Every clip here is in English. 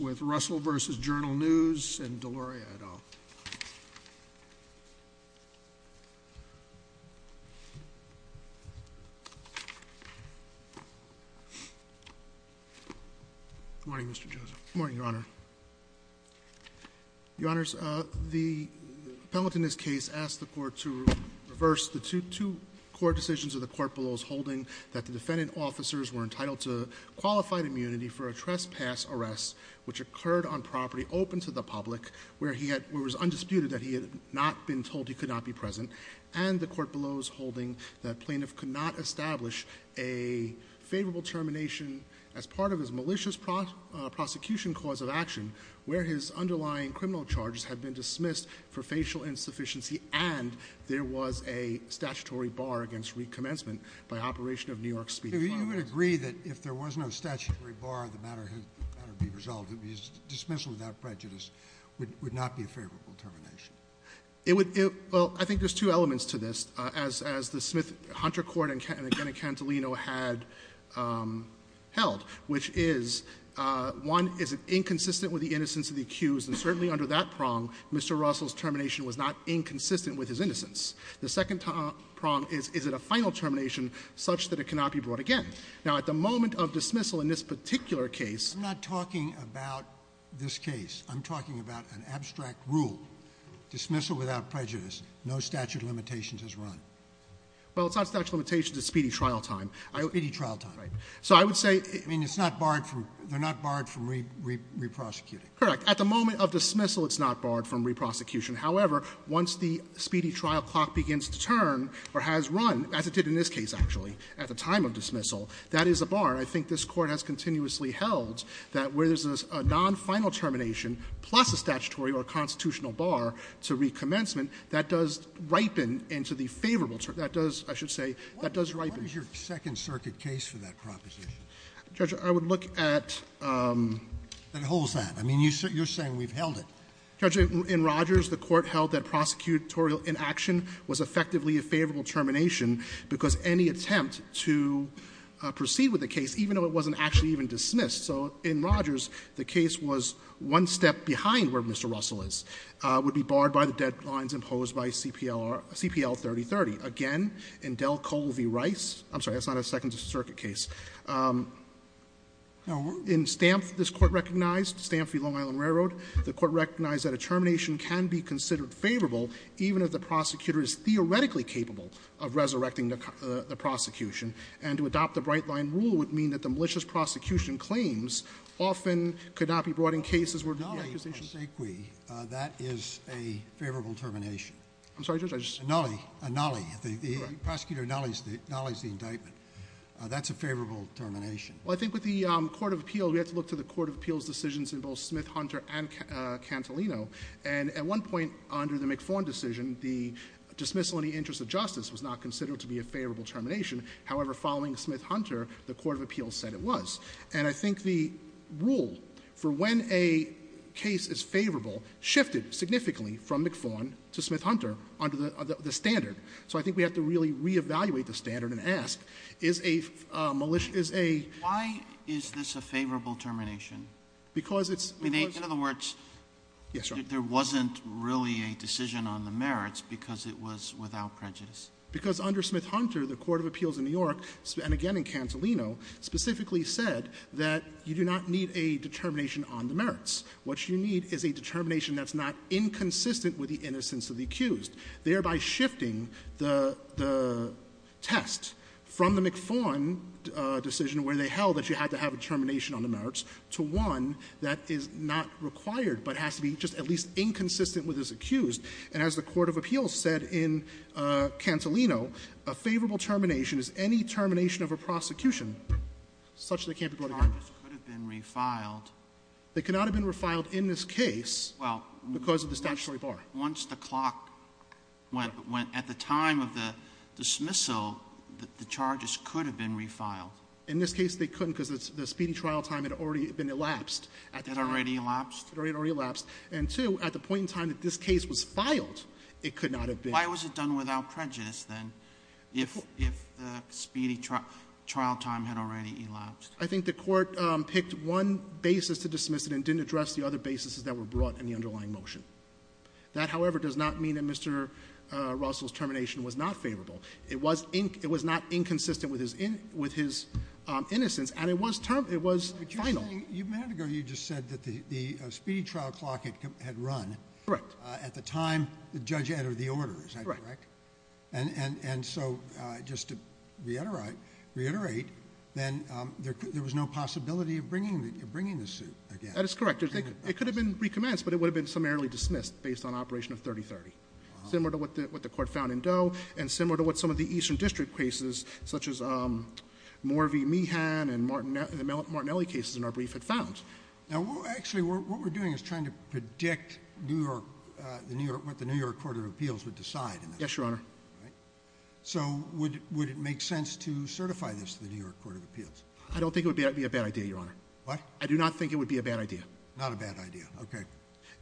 with Russell v. Journal News and Deloria et al. Good morning, Mr. Joseph. Good morning, Your Honor. Your Honors, the appellate in this case asked the court to reverse the two court decisions of the court below's holding that the defendant officers were entitled to qualified immunity for a case which occurred on property open to the public, where he had — where it was undisputed that he had not been told he could not be present, and the court below's holding that plaintiff could not establish a favorable termination as part of his malicious prosecution cause of action where his underlying criminal charges had been dismissed for facial insufficiency and there was a statutory bar against recommencement by Operation of New York Speedy Flowers. So you would agree that if there was no statutory bar, the matter would be resolved. It would be dismissal without prejudice, would not be a favorable termination? It would — well, I think there's two elements to this, as the Smith-Hunter court and again in Cantolino had held, which is, one, is it inconsistent with the innocence of the accused, and certainly under that prong, Mr. Russell's termination was not inconsistent with his innocence. The second prong is, is it a final termination such that it cannot be brought again? Now, at the moment of dismissal in this particular case — I'm not talking about this case. I'm talking about an abstract rule, dismissal without prejudice. No statute of limitations is run. Well, it's not statute of limitations. It's speedy trial time. Speedy trial time. Right. So I would say — I mean, it's not barred from — they're not barred from re-prosecuting. Correct. At the moment of dismissal, it's not barred from re-prosecution. However, once the speedy trial clock begins to turn or has run, as it did in this case, actually, at the time of dismissal, that is a bar. I think this Court has continuously held that where there's a non-final termination plus a statutory or constitutional bar to recommencement, that does ripen into the favorable — that does, I should say, that does ripen. What is your Second Circuit case for that proposition? Judge, I would look at — That holds that. I mean, you're saying we've held it. Judge, in Rogers, the Court held that prosecutorial inaction was effectively a favorable termination because any attempt to proceed with the case, even though it wasn't actually even dismissed. So in Rogers, the case was one step behind where Mr. Russell is, would be barred by the deadlines imposed by CPL-3030. Again, in Delcoe v. Rice — I'm sorry, that's not a Second Circuit case. In Stamf, this Court recognized, Stamf v. Long Island Railroad, the Court recognized that a termination can be considered favorable even if the prosecutor is theoretically capable of resurrecting the prosecution. And to adopt the bright-line rule would mean that the malicious prosecution claims often could not be brought in cases where the accusation — But a nulli of sequi, that is a favorable termination. I'm sorry, Judge, I just — A nulli, a nulli. Correct. The prosecutor nullies the indictment. That's a favorable termination. Well, I think with the court of appeal, we have to look to the court of appeal's decisions in both Smith, Hunter, and Cantelino. And at one point under the McFaughn decision, the dismissal in the interest of justice was not considered to be a favorable termination. However, following Smith-Hunter, the court of appeal said it was. And I think the rule for when a case is favorable shifted significantly from McFaughn to Smith-Hunter under the standard. So I think we have to really reevaluate the standard and ask, is a malicious — Why is this a favorable termination? Because it's — In other words, there wasn't really a decision on the merits because it was without prejudice. Because under Smith-Hunter, the court of appeals in New York, and again in Cantelino, specifically said that you do not need a determination on the merits. What you need is a determination that's not inconsistent with the innocence of the accused, thereby shifting the test from the McFaughn decision where they held that you had to have a determination on the merits to one that is not required but has to be just at least inconsistent with his accused. And as the court of appeals said in Cantelino, a favorable termination is any termination of a prosecution such that it can't be brought again. Sotomayor, they could not have been refiled in this case because of the statutory bar. Sotomayor, once the clock went at the time of the dismissal, the charges could have been refiled. In this case, they couldn't because the speedy trial time had already been elapsed. It had already elapsed? It had already elapsed. And two, at the point in time that this case was filed, it could not have been. Why was it done without prejudice, then, if the speedy trial time had already elapsed? I think the Court picked one basis to dismiss it and didn't address the other basis that were brought in the underlying motion. That, however, does not mean that Mr. Russell's termination was not favorable. It was not inconsistent with his innocence. And it was final. But you're saying a minute ago you just said that the speedy trial clock had run. Correct. At the time the judge entered the order. Is that correct? Correct. And so just to reiterate, then there was no possibility of bringing the suit again. That is correct. It could have been recommenced, but it would have been summarily dismissed based on operation of 3030, similar to what the Court found in Doe and similar to what some of the Eastern District cases, such as Morvey-Meehan and the Martinelli cases in our brief, had found. Now, actually, what we're doing is trying to predict what the New York Court of Appeals would decide. Yes, Your Honor. So would it make sense to certify this to the New York Court of Appeals? I don't think it would be a bad idea, Your Honor. What? I do not think it would be a bad idea. Not a bad idea. OK.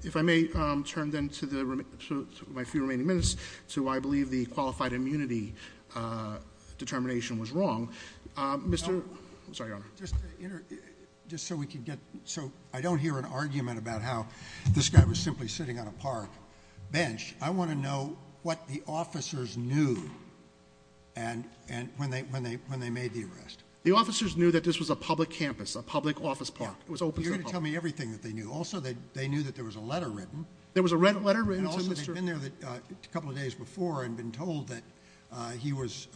If I may turn, then, to my few remaining minutes to why I believe the qualified immunity determination was wrong. Mr. I'm sorry, Your Honor. Just so we can get, so I don't hear an argument about how this guy was simply sitting on a park bench. I want to know what the officers knew when they made the arrest. The officers knew that this was a public campus, a public office park. It was open to the public. You're going to tell me everything that they knew. Also, they knew that there was a letter written. There was a letter written to Mr. I've been there a couple of days before and been told that he was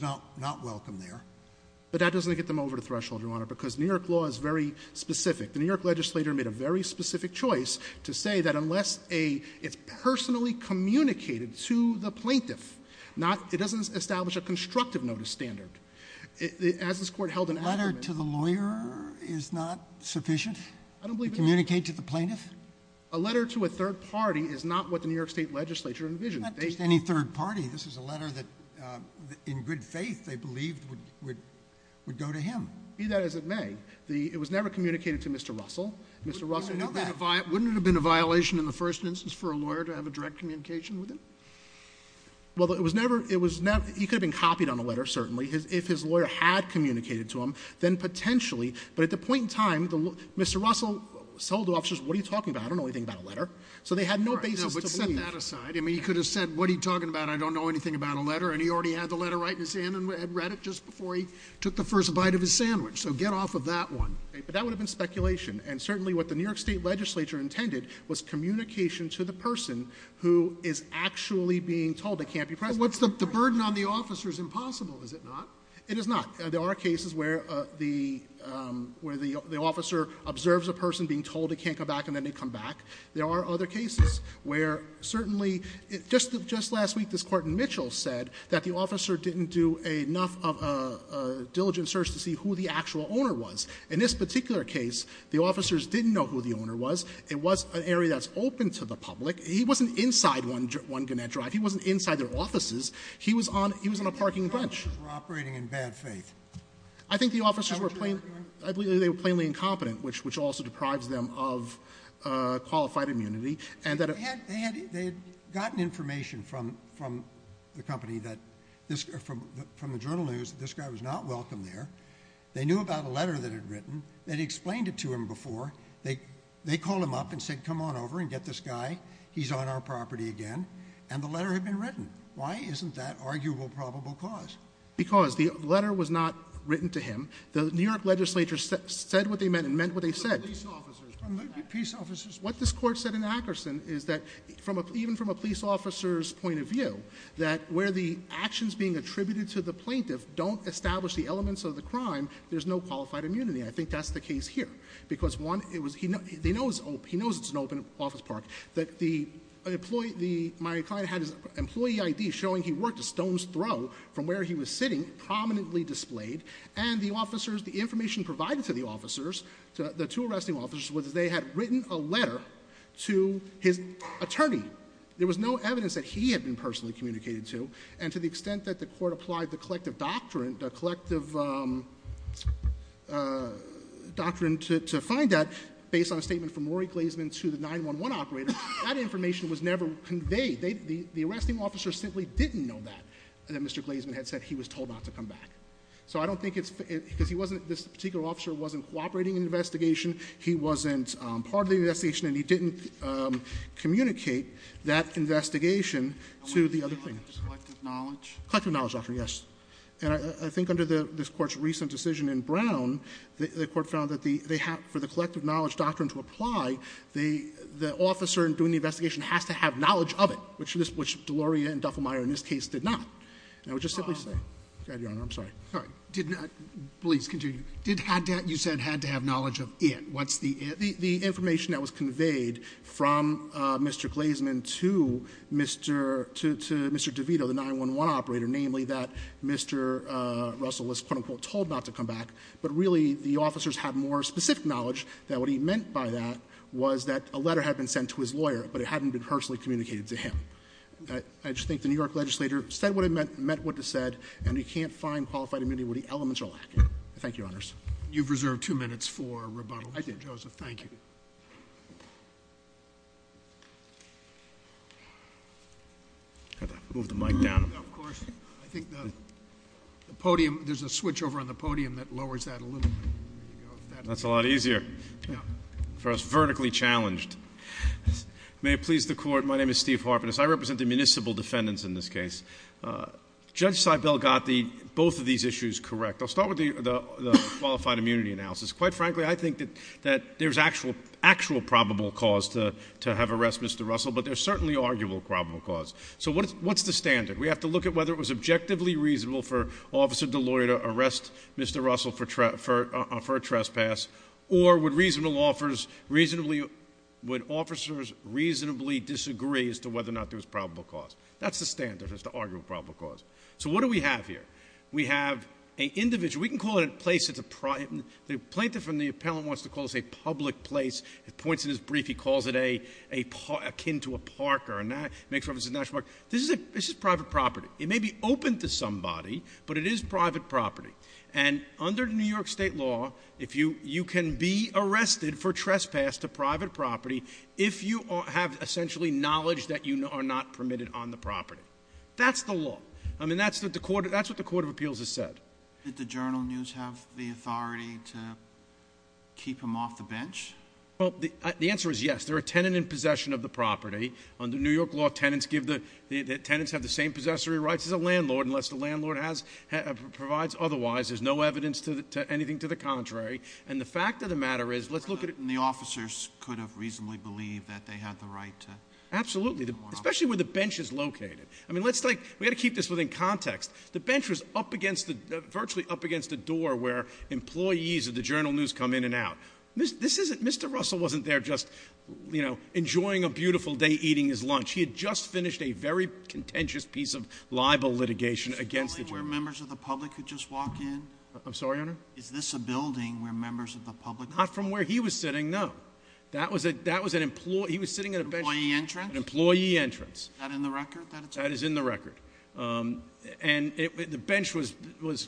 not welcome there. But that doesn't get them over the threshold, Your Honor, because New York law is very specific. The New York legislator made a very specific choice to say that unless it's personally communicated to the plaintiff. Not, it doesn't establish a constructive notice standard. As this court held an argument- A letter to the lawyer is not sufficient to communicate to the plaintiff? A letter to a third party is not what the New York State Legislature envisioned. They- Not just any third party. This is a letter that, in good faith, they believed would go to him. Be that as it may, it was never communicated to Mr. Russell. Mr. Russell- Wouldn't it have been a violation in the first instance for a lawyer to have a direct communication with him? Well, it was never, he could have been copied on a letter, certainly, if his lawyer had communicated to him. Then potentially, but at the point in time, Mr. Russell told the officers, what are you talking about? I don't know anything about a letter. So they had no basis to believe. All right, now, but set that aside. I mean, he could have said, what are you talking about? I don't know anything about a letter. And he already had the letter right in his hand and had read it just before he took the first bite of his sandwich. So get off of that one. But that would have been speculation. And certainly what the New York State Legislature intended was communication to the person who is actually being told they can't be present. What's the burden on the officers? Impossible, is it not? It is not. There are cases where the officer observes a person being told they can't come back and then they come back. There are other cases where certainly, just last week this Court in Mitchell said that the officer didn't do enough of a diligent search to see who the actual owner was. In this particular case, the officers didn't know who the owner was. It was an area that's open to the public. He wasn't inside one Gannett Drive. He wasn't inside their offices. He was on a parking bench. The officers were operating in bad faith. I think the officers were plainly incompetent, which also deprives them of qualified immunity. And that- They had gotten information from the company, from the journal news, that this guy was not welcome there. They knew about a letter that had written. They'd explained it to him before. They called him up and said, come on over and get this guy. He's on our property again. And the letter had been written. Why isn't that arguable probable cause? Because the letter was not written to him. The New York legislature said what they meant and meant what they said. The police officers. The police officers. What this court said in Akerson is that even from a police officer's point of view, that where the actions being attributed to the plaintiff don't establish the elements of the crime, there's no qualified immunity. I think that's the case here. Because one, he knows it's an open office park. That the employee, my client had his employee ID showing he worked at Stone's Throw from where he was sitting, prominently displayed. And the officers, the information provided to the officers, the two arresting officers was that they had written a letter to his attorney. There was no evidence that he had been personally communicated to. And to the extent that the court applied the collective doctrine to find that, based on a statement from Rory Glazeman to the 911 operator, that information was never conveyed. The arresting officer simply didn't know that, that Mr. Glazeman had said he was told not to come back. So I don't think it's, because this particular officer wasn't cooperating in the investigation. He wasn't part of the investigation, and he didn't communicate that investigation to the other plaintiffs. Collective knowledge? Collective knowledge, yes. And I think under this court's recent decision in Brown, the court found that for the collective knowledge doctrine to apply, the officer doing the investigation has to have knowledge of it. Which Deloria and Duffelmayer in this case did not. And I would just simply say, your honor, I'm sorry. Did not, please continue. Did had to, you said had to have knowledge of it. What's the it? The information that was conveyed from Mr. Glazeman to Mr. Glazeman to the 911 operator, namely that Mr. Russell was, quote unquote, told not to come back. But really, the officers had more specific knowledge that what he meant by that was that a letter had been sent to his lawyer, but it hadn't been personally communicated to him. I just think the New York legislature said what it meant, meant what it said, and we can't find qualified immunity where the elements are lacking. Thank you, your honors. You've reserved two minutes for rebuttal. I did. Joseph, thank you. Had to move the mic down. Of course. I think the podium, there's a switch over on the podium that lowers that a little bit. That's a lot easier for us vertically challenged. May it please the court, my name is Steve Harpenis. I represent the municipal defendants in this case. Judge Seibel got both of these issues correct. I'll start with the qualified immunity analysis. Quite frankly, I think that there's actual probable cause to have arrested Mr. Russell, but there's certainly arguable probable cause. So what's the standard? We have to look at whether it was objectively reasonable for Officer Deloyer to arrest Mr. Russell for a trespass. Or would officers reasonably disagree as to whether or not there was probable cause? That's the standard, is to argue probable cause. So what do we have here? We have a individual, we can call it a place that's a private, the plaintiff and the appellant wants to call this a public place. It points in his brief, he calls it akin to a park or a national park. This is private property. It may be open to somebody, but it is private property. And under New York State law, you can be arrested for trespass to private property if you have essentially knowledge that you are not permitted on the property. That's the law. I mean, that's what the Court of Appeals has said. Did the Journal News have the authority to keep him off the bench? Well, the answer is yes. They're a tenant in possession of the property. Under New York law, tenants have the same possessory rights as a landlord, unless the landlord provides otherwise, there's no evidence to anything to the contrary. And the fact of the matter is, let's look at- And the officers could have reasonably believed that they had the right to- Absolutely, especially where the bench is located. I mean, let's take, we gotta keep this within context. The bench was up against the, virtually up against the door where employees of the Journal News come in and out. This isn't, Mr. Russell wasn't there just enjoying a beautiful day eating his lunch. He had just finished a very contentious piece of libel litigation against the Journal News. Was this a building where members of the public could just walk in? I'm sorry, Your Honor? Is this a building where members of the public- Not from where he was sitting, no. That was an employee, he was sitting at a bench- Employee entrance? An employee entrance. That in the record, that it's- That is in the record. And the bench was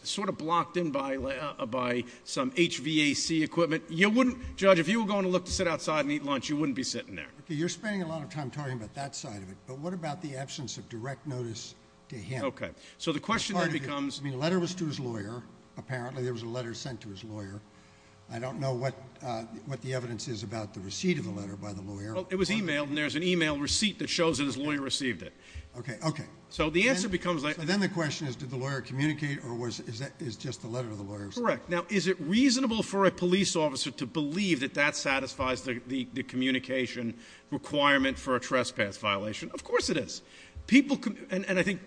sort of blocked in by some HVAC equipment. You wouldn't, Judge, if you were going to look to sit outside and eat lunch, you wouldn't be sitting there. You're spending a lot of time talking about that side of it, but what about the absence of direct notice to him? Okay, so the question then becomes- I mean, the letter was to his lawyer. Apparently, there was a letter sent to his lawyer. Well, it was emailed, and there's an email receipt that shows that his lawyer received it. Okay, okay. So the answer becomes- So then the question is, did the lawyer communicate, or is that just the letter to the lawyer? Correct. Now, is it reasonable for a police officer to believe that that satisfies the communication requirement for a trespass violation? Of course it is. People can- And I think-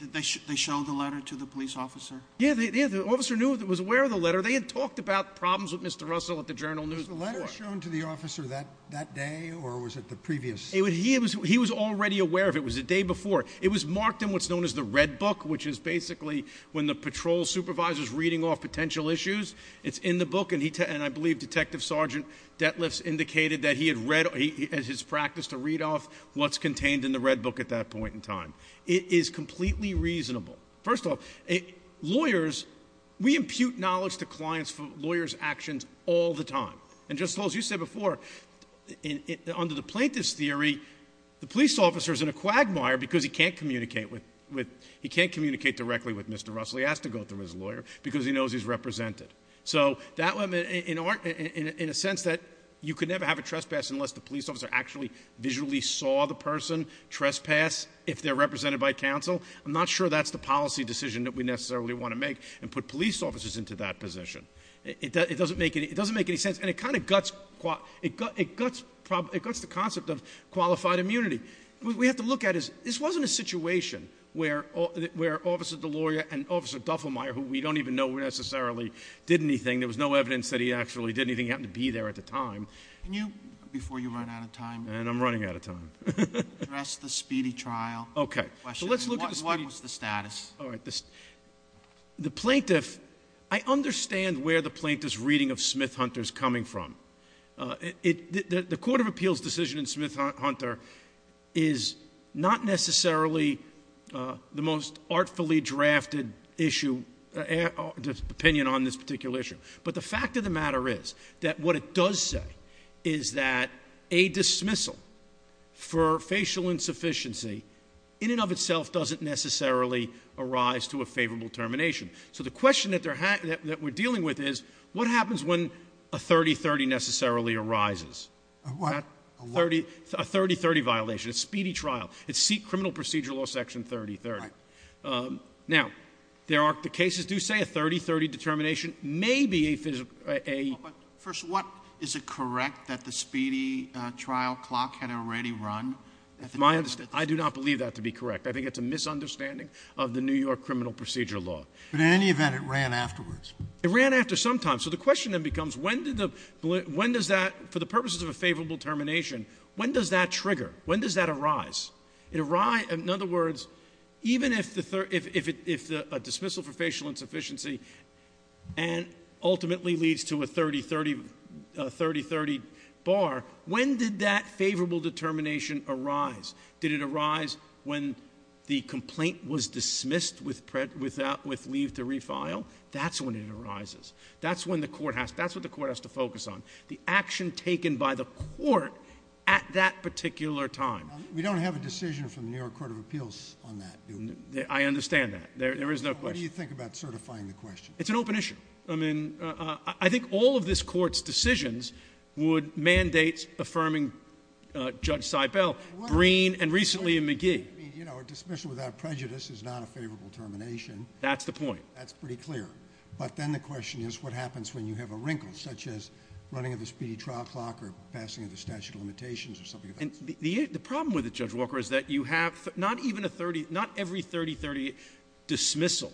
Did they show the letter to the police officer? Yeah, the officer was aware of the letter. They had talked about problems with Mr. Russell at the Journal News before. Was the letter shown to the officer that day, or was it the previous- He was already aware of it. It was the day before. It was marked in what's known as the red book, which is basically when the patrol supervisor's reading off potential issues. It's in the book, and I believe Detective Sergeant Detliff's indicated that he had read as his practice to read off what's contained in the red book at that point in time. It is completely reasonable. First of all, lawyers, we impute knowledge to clients for lawyers' actions all the time. And just as you said before, under the plaintiff's theory, the police officer's in a quagmire because he can't communicate directly with Mr. Russell. He has to go through his lawyer because he knows he's represented. So, in a sense that you could never have a trespass unless the police officer actually visually saw the person trespass if they're represented by counsel. I'm not sure that's the policy decision that we necessarily want to make and put police officers into that position. It doesn't make any sense, and it kind of guts the concept of qualified immunity. What we have to look at is, this wasn't a situation where Officer Deloria and Officer Duffelmeyer, who we don't even know necessarily did anything, there was no evidence that he actually did anything, he happened to be there at the time. Can you, before you run out of time- And I'm running out of time. Address the speedy trial. Okay. So let's look at the speedy- What was the status? All right, the plaintiff, I understand where the plaintiff's reading of Smith-Hunter's coming from. The Court of Appeals decision in Smith-Hunter is not necessarily the most artfully drafted opinion on this particular issue. But the fact of the matter is that what it does say is that a dismissal for a speedy trial may arise to a favorable termination. So the question that we're dealing with is, what happens when a 30-30 necessarily arises? What? A 30-30 violation, a speedy trial. It's Criminal Procedure Law Section 30-30. Right. Now, the cases do say a 30-30 determination may be a- First, what, is it correct that the speedy trial clock had already run? I do not believe that to be correct. I think it's a misunderstanding of the New York Criminal Procedure Law. But in any event, it ran afterwards. It ran after some time. So the question then becomes, when does that, for the purposes of a favorable termination, when does that trigger? When does that arise? In other words, even if a dismissal for facial insufficiency ultimately leads to a 30-30 bar, when did that favorable determination arise? Did it arise when the complaint was dismissed with leave to refile? That's when it arises. That's when the court has, that's what the court has to focus on. The action taken by the court at that particular time. We don't have a decision from the New York Court of Appeals on that, do we? I understand that. There is no question. What do you think about certifying the question? It's an open issue. I mean, I think all of this court's decisions would mandate affirming Judge Seibel. Breen, and recently in McGee. I mean, you know, a dismissal without prejudice is not a favorable termination. That's the point. That's pretty clear. But then the question is, what happens when you have a wrinkle, such as running of the speedy trial clock, or passing of the statute of limitations, or something of that sort? The problem with it, Judge Walker, is that you have not even a 30, not every 30-30 dismissal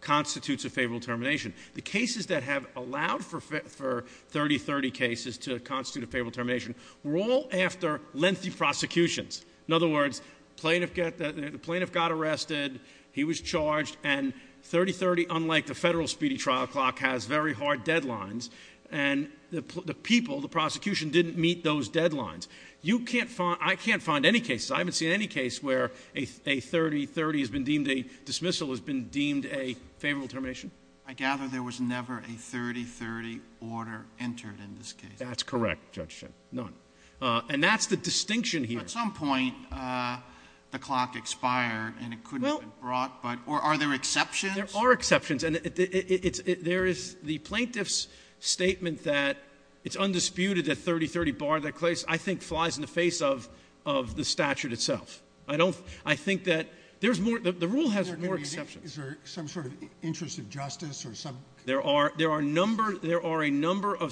constitutes a favorable termination. The cases that have allowed for 30-30 cases to constitute a favorable termination were all after lengthy prosecutions. In other words, the plaintiff got arrested. He was charged, and 30-30, unlike the federal speedy trial clock, has very hard deadlines. And the people, the prosecution, didn't meet those deadlines. I can't find any cases, I haven't seen any case where a 30-30 has been deemed a dismissal has been deemed a favorable termination. I gather there was never a 30-30 order entered in this case. That's correct, Judge Schen. None. And that's the distinction here. At some point, the clock expired, and it couldn't have been brought, but, or are there exceptions? There are exceptions. And there is the plaintiff's statement that it's undisputed that 30-30 barred that case, I think, flies in the face of the statute itself. I don't, I think that there's more, the rule has more exceptions. Is there some sort of interest of justice, or some? There are a number of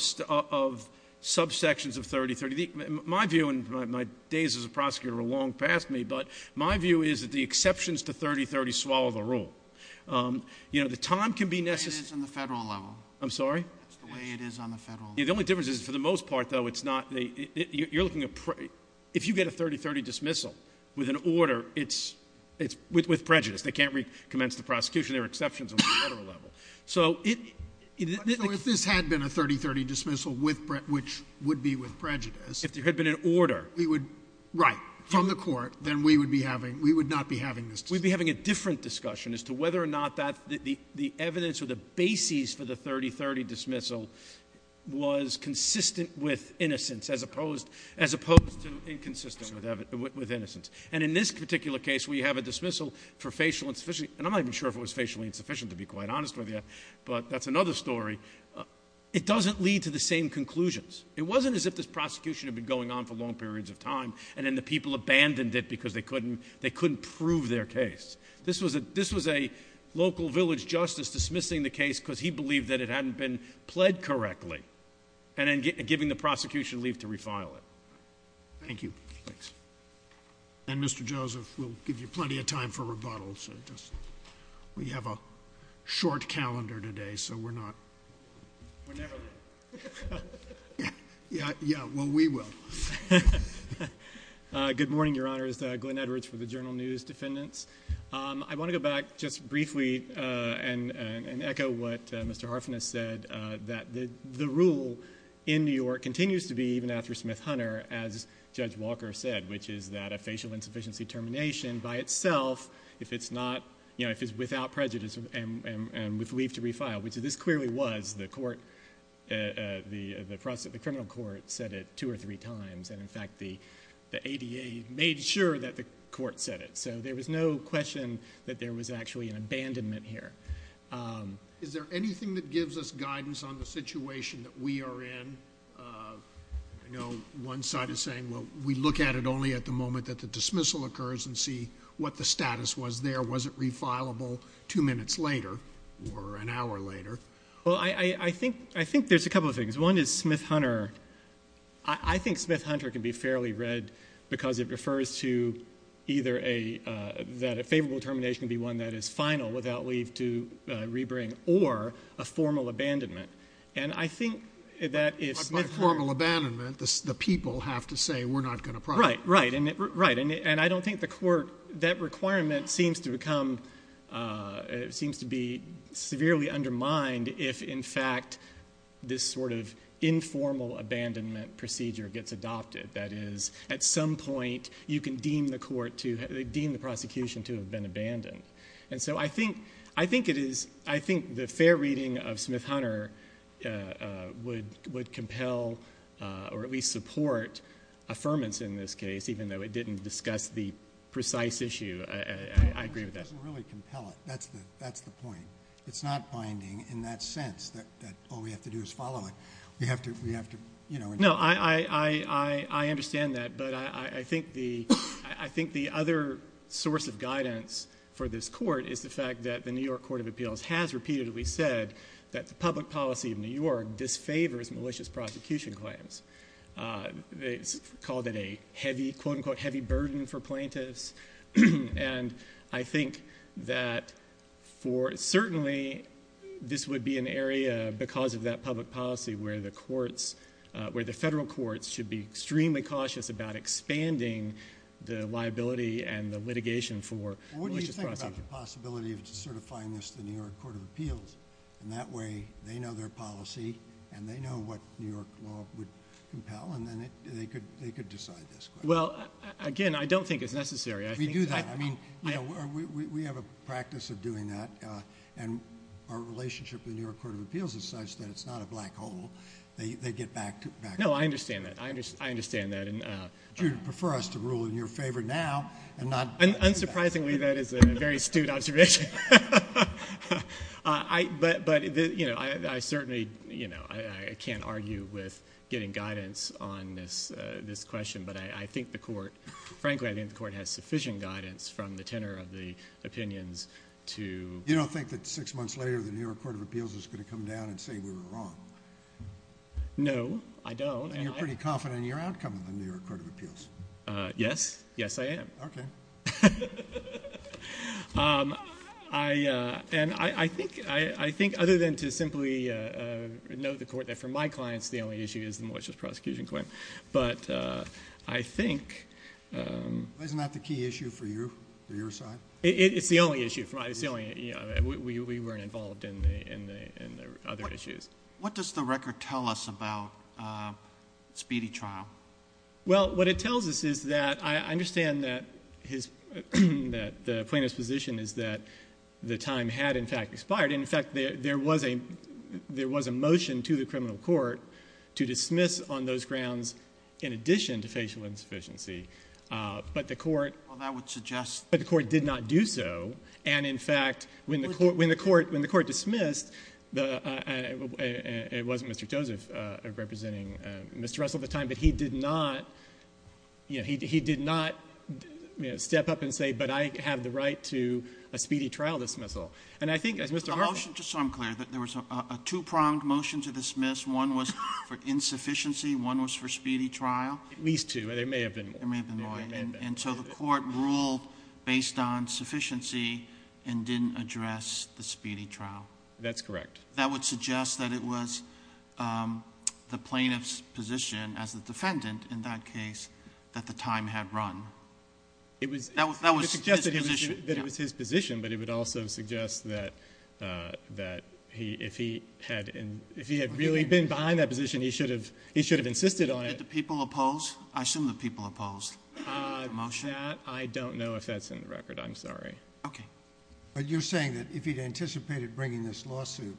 subsections of 30-30. My view, and my days as a prosecutor are long past me, but my view is that the exceptions to 30-30 swallow the rule. The time can be necessary- That's the way it is on the federal level. I'm sorry? That's the way it is on the federal level. The only difference is, for the most part, though, it's not, you're looking at, if you get a 30-30 dismissal with an order, it's with prejudice. They can't recommence the prosecution. There are exceptions on the federal level. So, if this had been a 30-30 dismissal, which would be with prejudice- If there had been an order. We would, right, from the court, then we would be having, we would not be having this discussion. We'd be having a different discussion as to whether or not the evidence or the basis for the 30-30 dismissal was consistent with innocence, as opposed to inconsistent with innocence. And in this particular case, we have a dismissal for facial insufficiency, and I'm not even sure if it was facially insufficient, to be quite honest with you, but that's another story. It doesn't lead to the same conclusions. It wasn't as if this prosecution had been going on for long periods of time, and then the people abandoned it because they couldn't prove their case. This was a local village justice dismissing the case because he believed that it hadn't been pled correctly, and then giving the prosecution leave to refile it. Thank you. Thanks. And Mr. Joseph, we'll give you plenty of time for rebuttals. We have a short calendar today, so we're not- We're never late. Yeah, well, we will. Good morning, Your Honors. Glenn Edwards for the Journal News Defendants. I want to go back just briefly and echo what Mr. Harfin has said, that the rule in New York continues to be, even after Smith-Hunter, as Judge Walker said, which is that a facial insufficiency termination by itself, if it's without prejudice and with leave to refile, which this clearly was, the criminal court said it two or three times. And in fact, the ADA made sure that the court said it. So there was no question that there was actually an abandonment here. Is there anything that gives us guidance on the situation that we are in? I know one side is saying, well, we look at it only at the moment that the dismissal occurs and see what the status was there. Was it refileable two minutes later or an hour later? Well, I think there's a couple of things. One is Smith-Hunter. I think Smith-Hunter can be fairly read because it refers to either that a favorable termination be one that is final without leave to rebring or a formal abandonment. And I think that if Smith-Hunter- But by formal abandonment, the people have to say, we're not going to prosecute. Right, right, and I don't think the court, that requirement seems to become, it seems to be severely undermined if, in fact, this sort of informal abandonment procedure gets adopted. That is, at some point, you can deem the court to, deem the prosecution to have been abandoned. And so I think the fair reading of Smith-Hunter would compel or at least support affirmance in this case, even though it didn't discuss the precise issue. I agree with that. It doesn't really compel it, that's the point. It's not binding in that sense that all we have to do is follow it. We have to, you know- No, I understand that. But I think the other source of guidance for this court is the fact that the New York Court of Appeals has repeatedly said that the public policy of New York disfavors malicious prosecution claims. They called it a heavy, quote unquote, heavy burden for plaintiffs. And I think that for, certainly, this would be an area because of that public policy where the courts, where the federal courts should be extremely cautious about expanding the liability and the litigation for malicious prosecution. What do you think about the possibility of certifying this to the New York Court of Appeals? In that way, they know their policy, and they know what New York law would compel, and then they could decide this. Well, again, I don't think it's necessary. We do that. I mean, we have a practice of doing that. And our relationship with the New York Court of Appeals is such that it's not a black hole. They get back to- No, I understand that. I understand that. Do you prefer us to rule in your favor now and not- Unsurprisingly, that is a very astute observation. But I certainly, I can't argue with getting guidance on this question. But I think the court, frankly, I think the court has sufficient guidance from the tenor of the opinions to- You don't think that six months later, the New York Court of Appeals is going to come down and say we were wrong? No, I don't. And you're pretty confident in your outcome in the New York Court of Appeals? Yes, yes I am. Okay. And I think other than to simply note the court that for my clients, the only issue is the malicious prosecution claim. But I think- Isn't that the key issue for you, for your side? It's the only issue for my, it's the only, we weren't involved in the other issues. What does the record tell us about Speedy Trial? Well, what it tells us is that I understand that the plaintiff's position is that the time had, in fact, expired. In fact, there was a motion to the criminal court to dismiss on those grounds in addition to facial insufficiency. But the court- Well, that would suggest- But the court did not do so. And in fact, when the court dismissed, it wasn't Mr. Joseph representing Mr. Russell at the time, but he did not step up and say, but I have the right to a Speedy Trial dismissal. And I think as Mr. Hartford- The motion, just so I'm clear, that there was a two-pronged motion to dismiss, one was for insufficiency, one was for Speedy Trial? At least two, there may have been more. There may have been more. And so the court ruled based on sufficiency and didn't address the Speedy Trial. That's correct. That would suggest that it was the plaintiff's position as the defendant, in that case, that the time had run. That was his position. That it was his position, but it would also suggest that if he had really been behind that position, he should have insisted on it. Did the people oppose? I assume the people opposed the motion. That, I don't know if that's in the record, I'm sorry. Okay. But you're saying that if he'd anticipated bringing this lawsuit,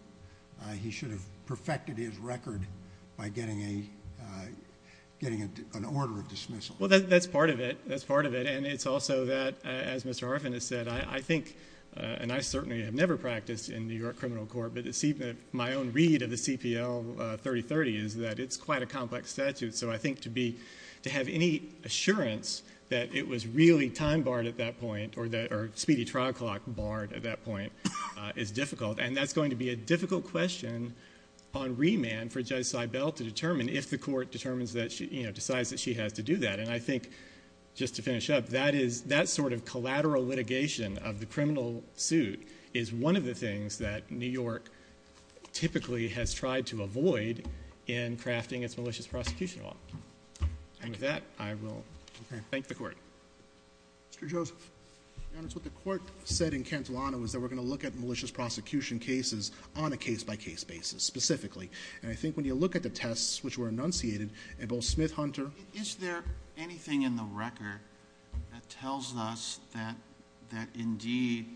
he should have perfected his record by getting an order of dismissal? Well, that's part of it. That's part of it, and it's also that, as Mr. Harfin has said, I think, and I certainly have never practiced in New York criminal court, but my own read of the CPL 3030 is that it's quite a complex statute. So I think to have any assurance that it was really time barred at that point, or Speedy Trial Clock barred at that point, is difficult. And that's going to be a difficult question on remand for Judge Seibel to determine if the court decides that she has to do that. And I think, just to finish up, that sort of collateral litigation of the criminal suit is one of the things that New York typically has tried to avoid in crafting its malicious prosecution law. And with that, I will thank the court. Mr. Joseph. Your Honor, it's what the court said in Cantilano was that we're going to look at malicious prosecution cases on a case-by-case basis, specifically. And I think when you look at the tests which were enunciated, and both Smith-Hunter- Is there anything in the record that tells us that indeed,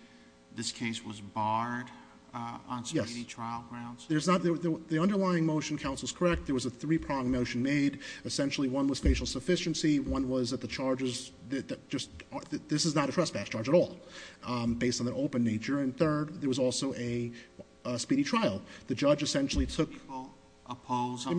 this case was barred on speedy trial grounds? Yes, the underlying motion, counsel's correct, there was a three-pronged motion made. Essentially, one was facial sufficiency, one was that the charges, this is not a trespass charge at all, based on their open nature. And third, there was also a speedy trial. The judge essentially took- People oppose- Well,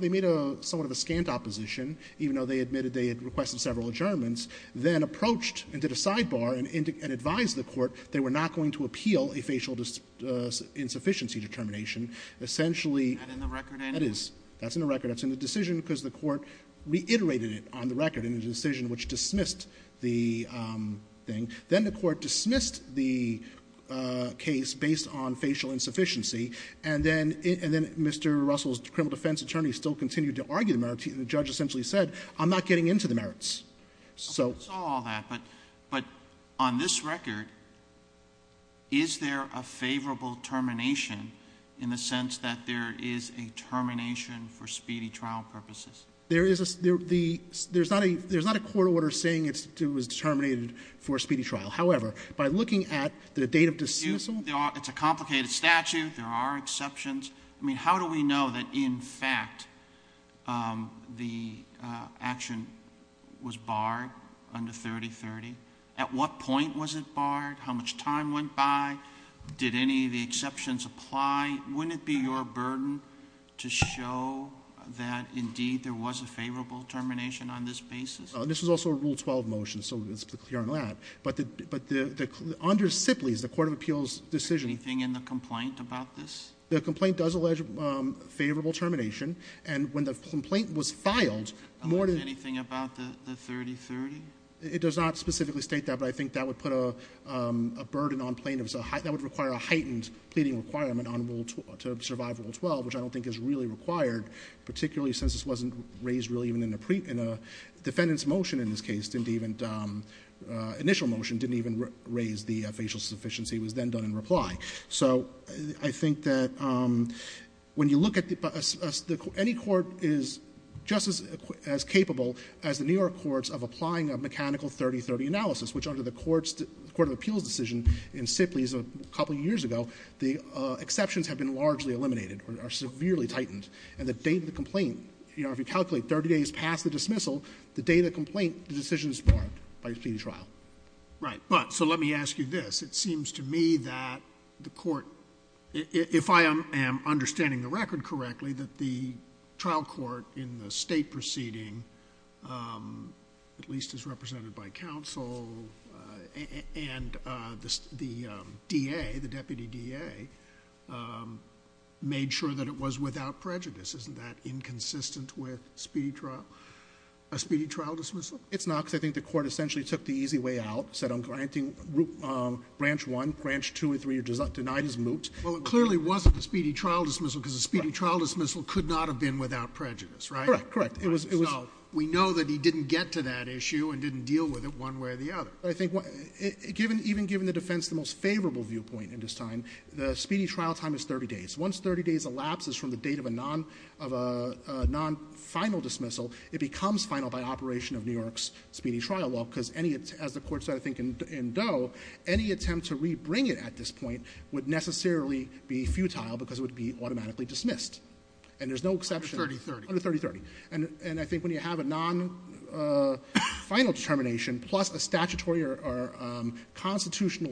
they made a somewhat of a scant opposition, even though they admitted they had requested several adjournments. Then approached and did a sidebar and advised the court they were not going to appeal a facial insufficiency determination. Essentially- Is that in the record anyway? That is. That's in the record. That's in the decision because the court reiterated it on the record in the decision which dismissed the thing. Then the court dismissed the case based on facial insufficiency. And then Mr. Russell's criminal defense attorney still continued to argue the merits. The judge essentially said, I'm not getting into the merits. So- I saw all that, but on this record, is there a favorable termination in the sense that there is a termination for speedy trial purposes? There is a there's not a court order saying it was terminated for a speedy trial. However, by looking at the date of dismissal- It's a complicated statute. There are exceptions. I mean, how do we know that, in fact, the action was barred under 3030? At what point was it barred? How much time went by? Did any of the exceptions apply? Wouldn't it be your burden to show that, indeed, there was a favorable termination on this basis? This was also a Rule 12 motion, so it's clear on that. But the under Sibley's, the court of appeals decision- The complaint does allege favorable termination. And when the complaint was filed, more than- Anything about the 3030? It does not specifically state that, but I think that would put a burden on plaintiffs. That would require a heightened pleading requirement on Rule 12, to survive Rule 12, which I don't think is really required, particularly since this wasn't raised really even in a defendant's motion in this case. Didn't even, initial motion didn't even raise the facial sufficiency. It was then done in reply. So I think that when you look at the, any court is just as capable as the New York courts of applying a mechanical 3030 analysis, which under the court of appeals decision in Sibley's a couple years ago. The exceptions have been largely eliminated, or are severely tightened. And the date of the complaint, if you calculate 30 days past the dismissal, the date of the complaint, the decision is barred by the trial. Right, but so let me ask you this. It seems to me that the court, if I am understanding the record correctly, that the trial court in the state proceeding, at least as represented by counsel and the DA, the deputy DA, made sure that it was without prejudice. Isn't that inconsistent with a speedy trial dismissal? It's not, because I think the court essentially took the easy way out, said I'm granting branch one, branch two and three, or denied his moot. Well, it clearly wasn't a speedy trial dismissal, because a speedy trial dismissal could not have been without prejudice, right? Correct, correct. It was- We know that he didn't get to that issue and didn't deal with it one way or the other. I think, even given the defense the most favorable viewpoint in this time, the speedy trial time is 30 days. Once 30 days elapses from the date of a non-final dismissal, it becomes final by operation of New York's speedy trial law, because any, as the court said, I think, in Doe, any attempt to rebring it at this point would necessarily be futile because it would be automatically dismissed. And there's no exception- Under 30-30. Under 30-30. And I think when you have a non-final determination plus a statutory or final determination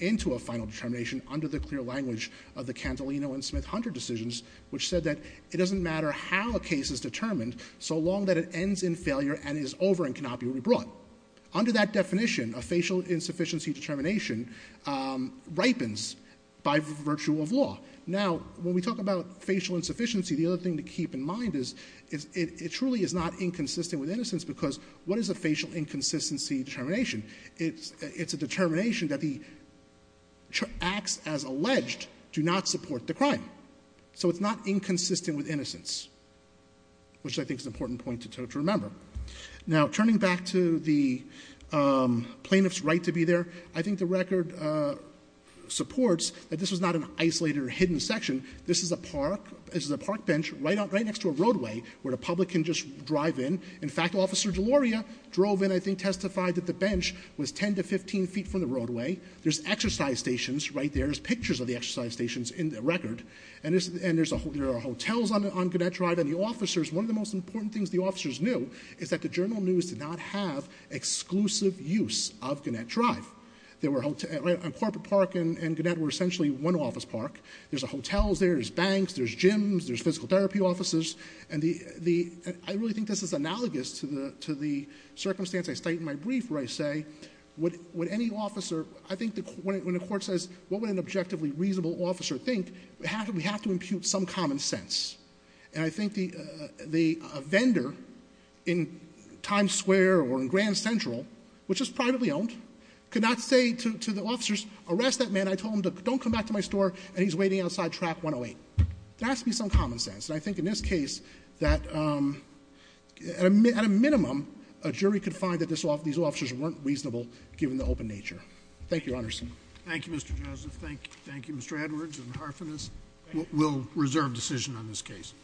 into a final determination under the clear language of the Cantolino and Smith-Hunter decisions, which said that it doesn't matter how a case is determined so long that it ends in failure and is over and cannot be rebrought. Under that definition, a facial insufficiency determination ripens by virtue of law. Now, when we talk about facial insufficiency, the other thing to keep in mind is it truly is not inconsistent with innocence, because what is a facial inconsistency determination? It's a determination that the acts as alleged do not support the crime. So it's not inconsistent with innocence, which I think is an important point to remember. Now, turning back to the plaintiff's right to be there, I think the record supports that this was not an isolated or hidden section. This is a park. This is a park bench right next to a roadway where the public can just drive in. In fact, Officer Deloria drove in, I think testified that the bench was 10 to 15 feet from the roadway. There's exercise stations right there. There's pictures of the exercise stations in the record. And there are hotels on Gannett Drive. And the officers, one of the most important things the officers knew is that the journal news did not have exclusive use of Gannett Drive. There were a corporate park and Gannett were essentially one office park. There's hotels there, there's banks, there's gyms, there's physical therapy offices. And I really think this is analogous to the circumstance I state in my brief where I say, when the court says, what would an objectively reasonable officer think, we have to impute some common sense. And I think the vendor in Times Square or in Grand Central, which is privately owned, could not say to the officers, arrest that man. I told him to don't come back to my store and he's waiting outside track 108. There has to be some common sense. And I think in this case, that at a minimum, a jury could find that these officers weren't reasonable given the open nature. Thank you, Your Honors. Thank you, Mr. Joseph. Thank you, Mr. Edwards and Harfinis. We'll reserve decision on this case.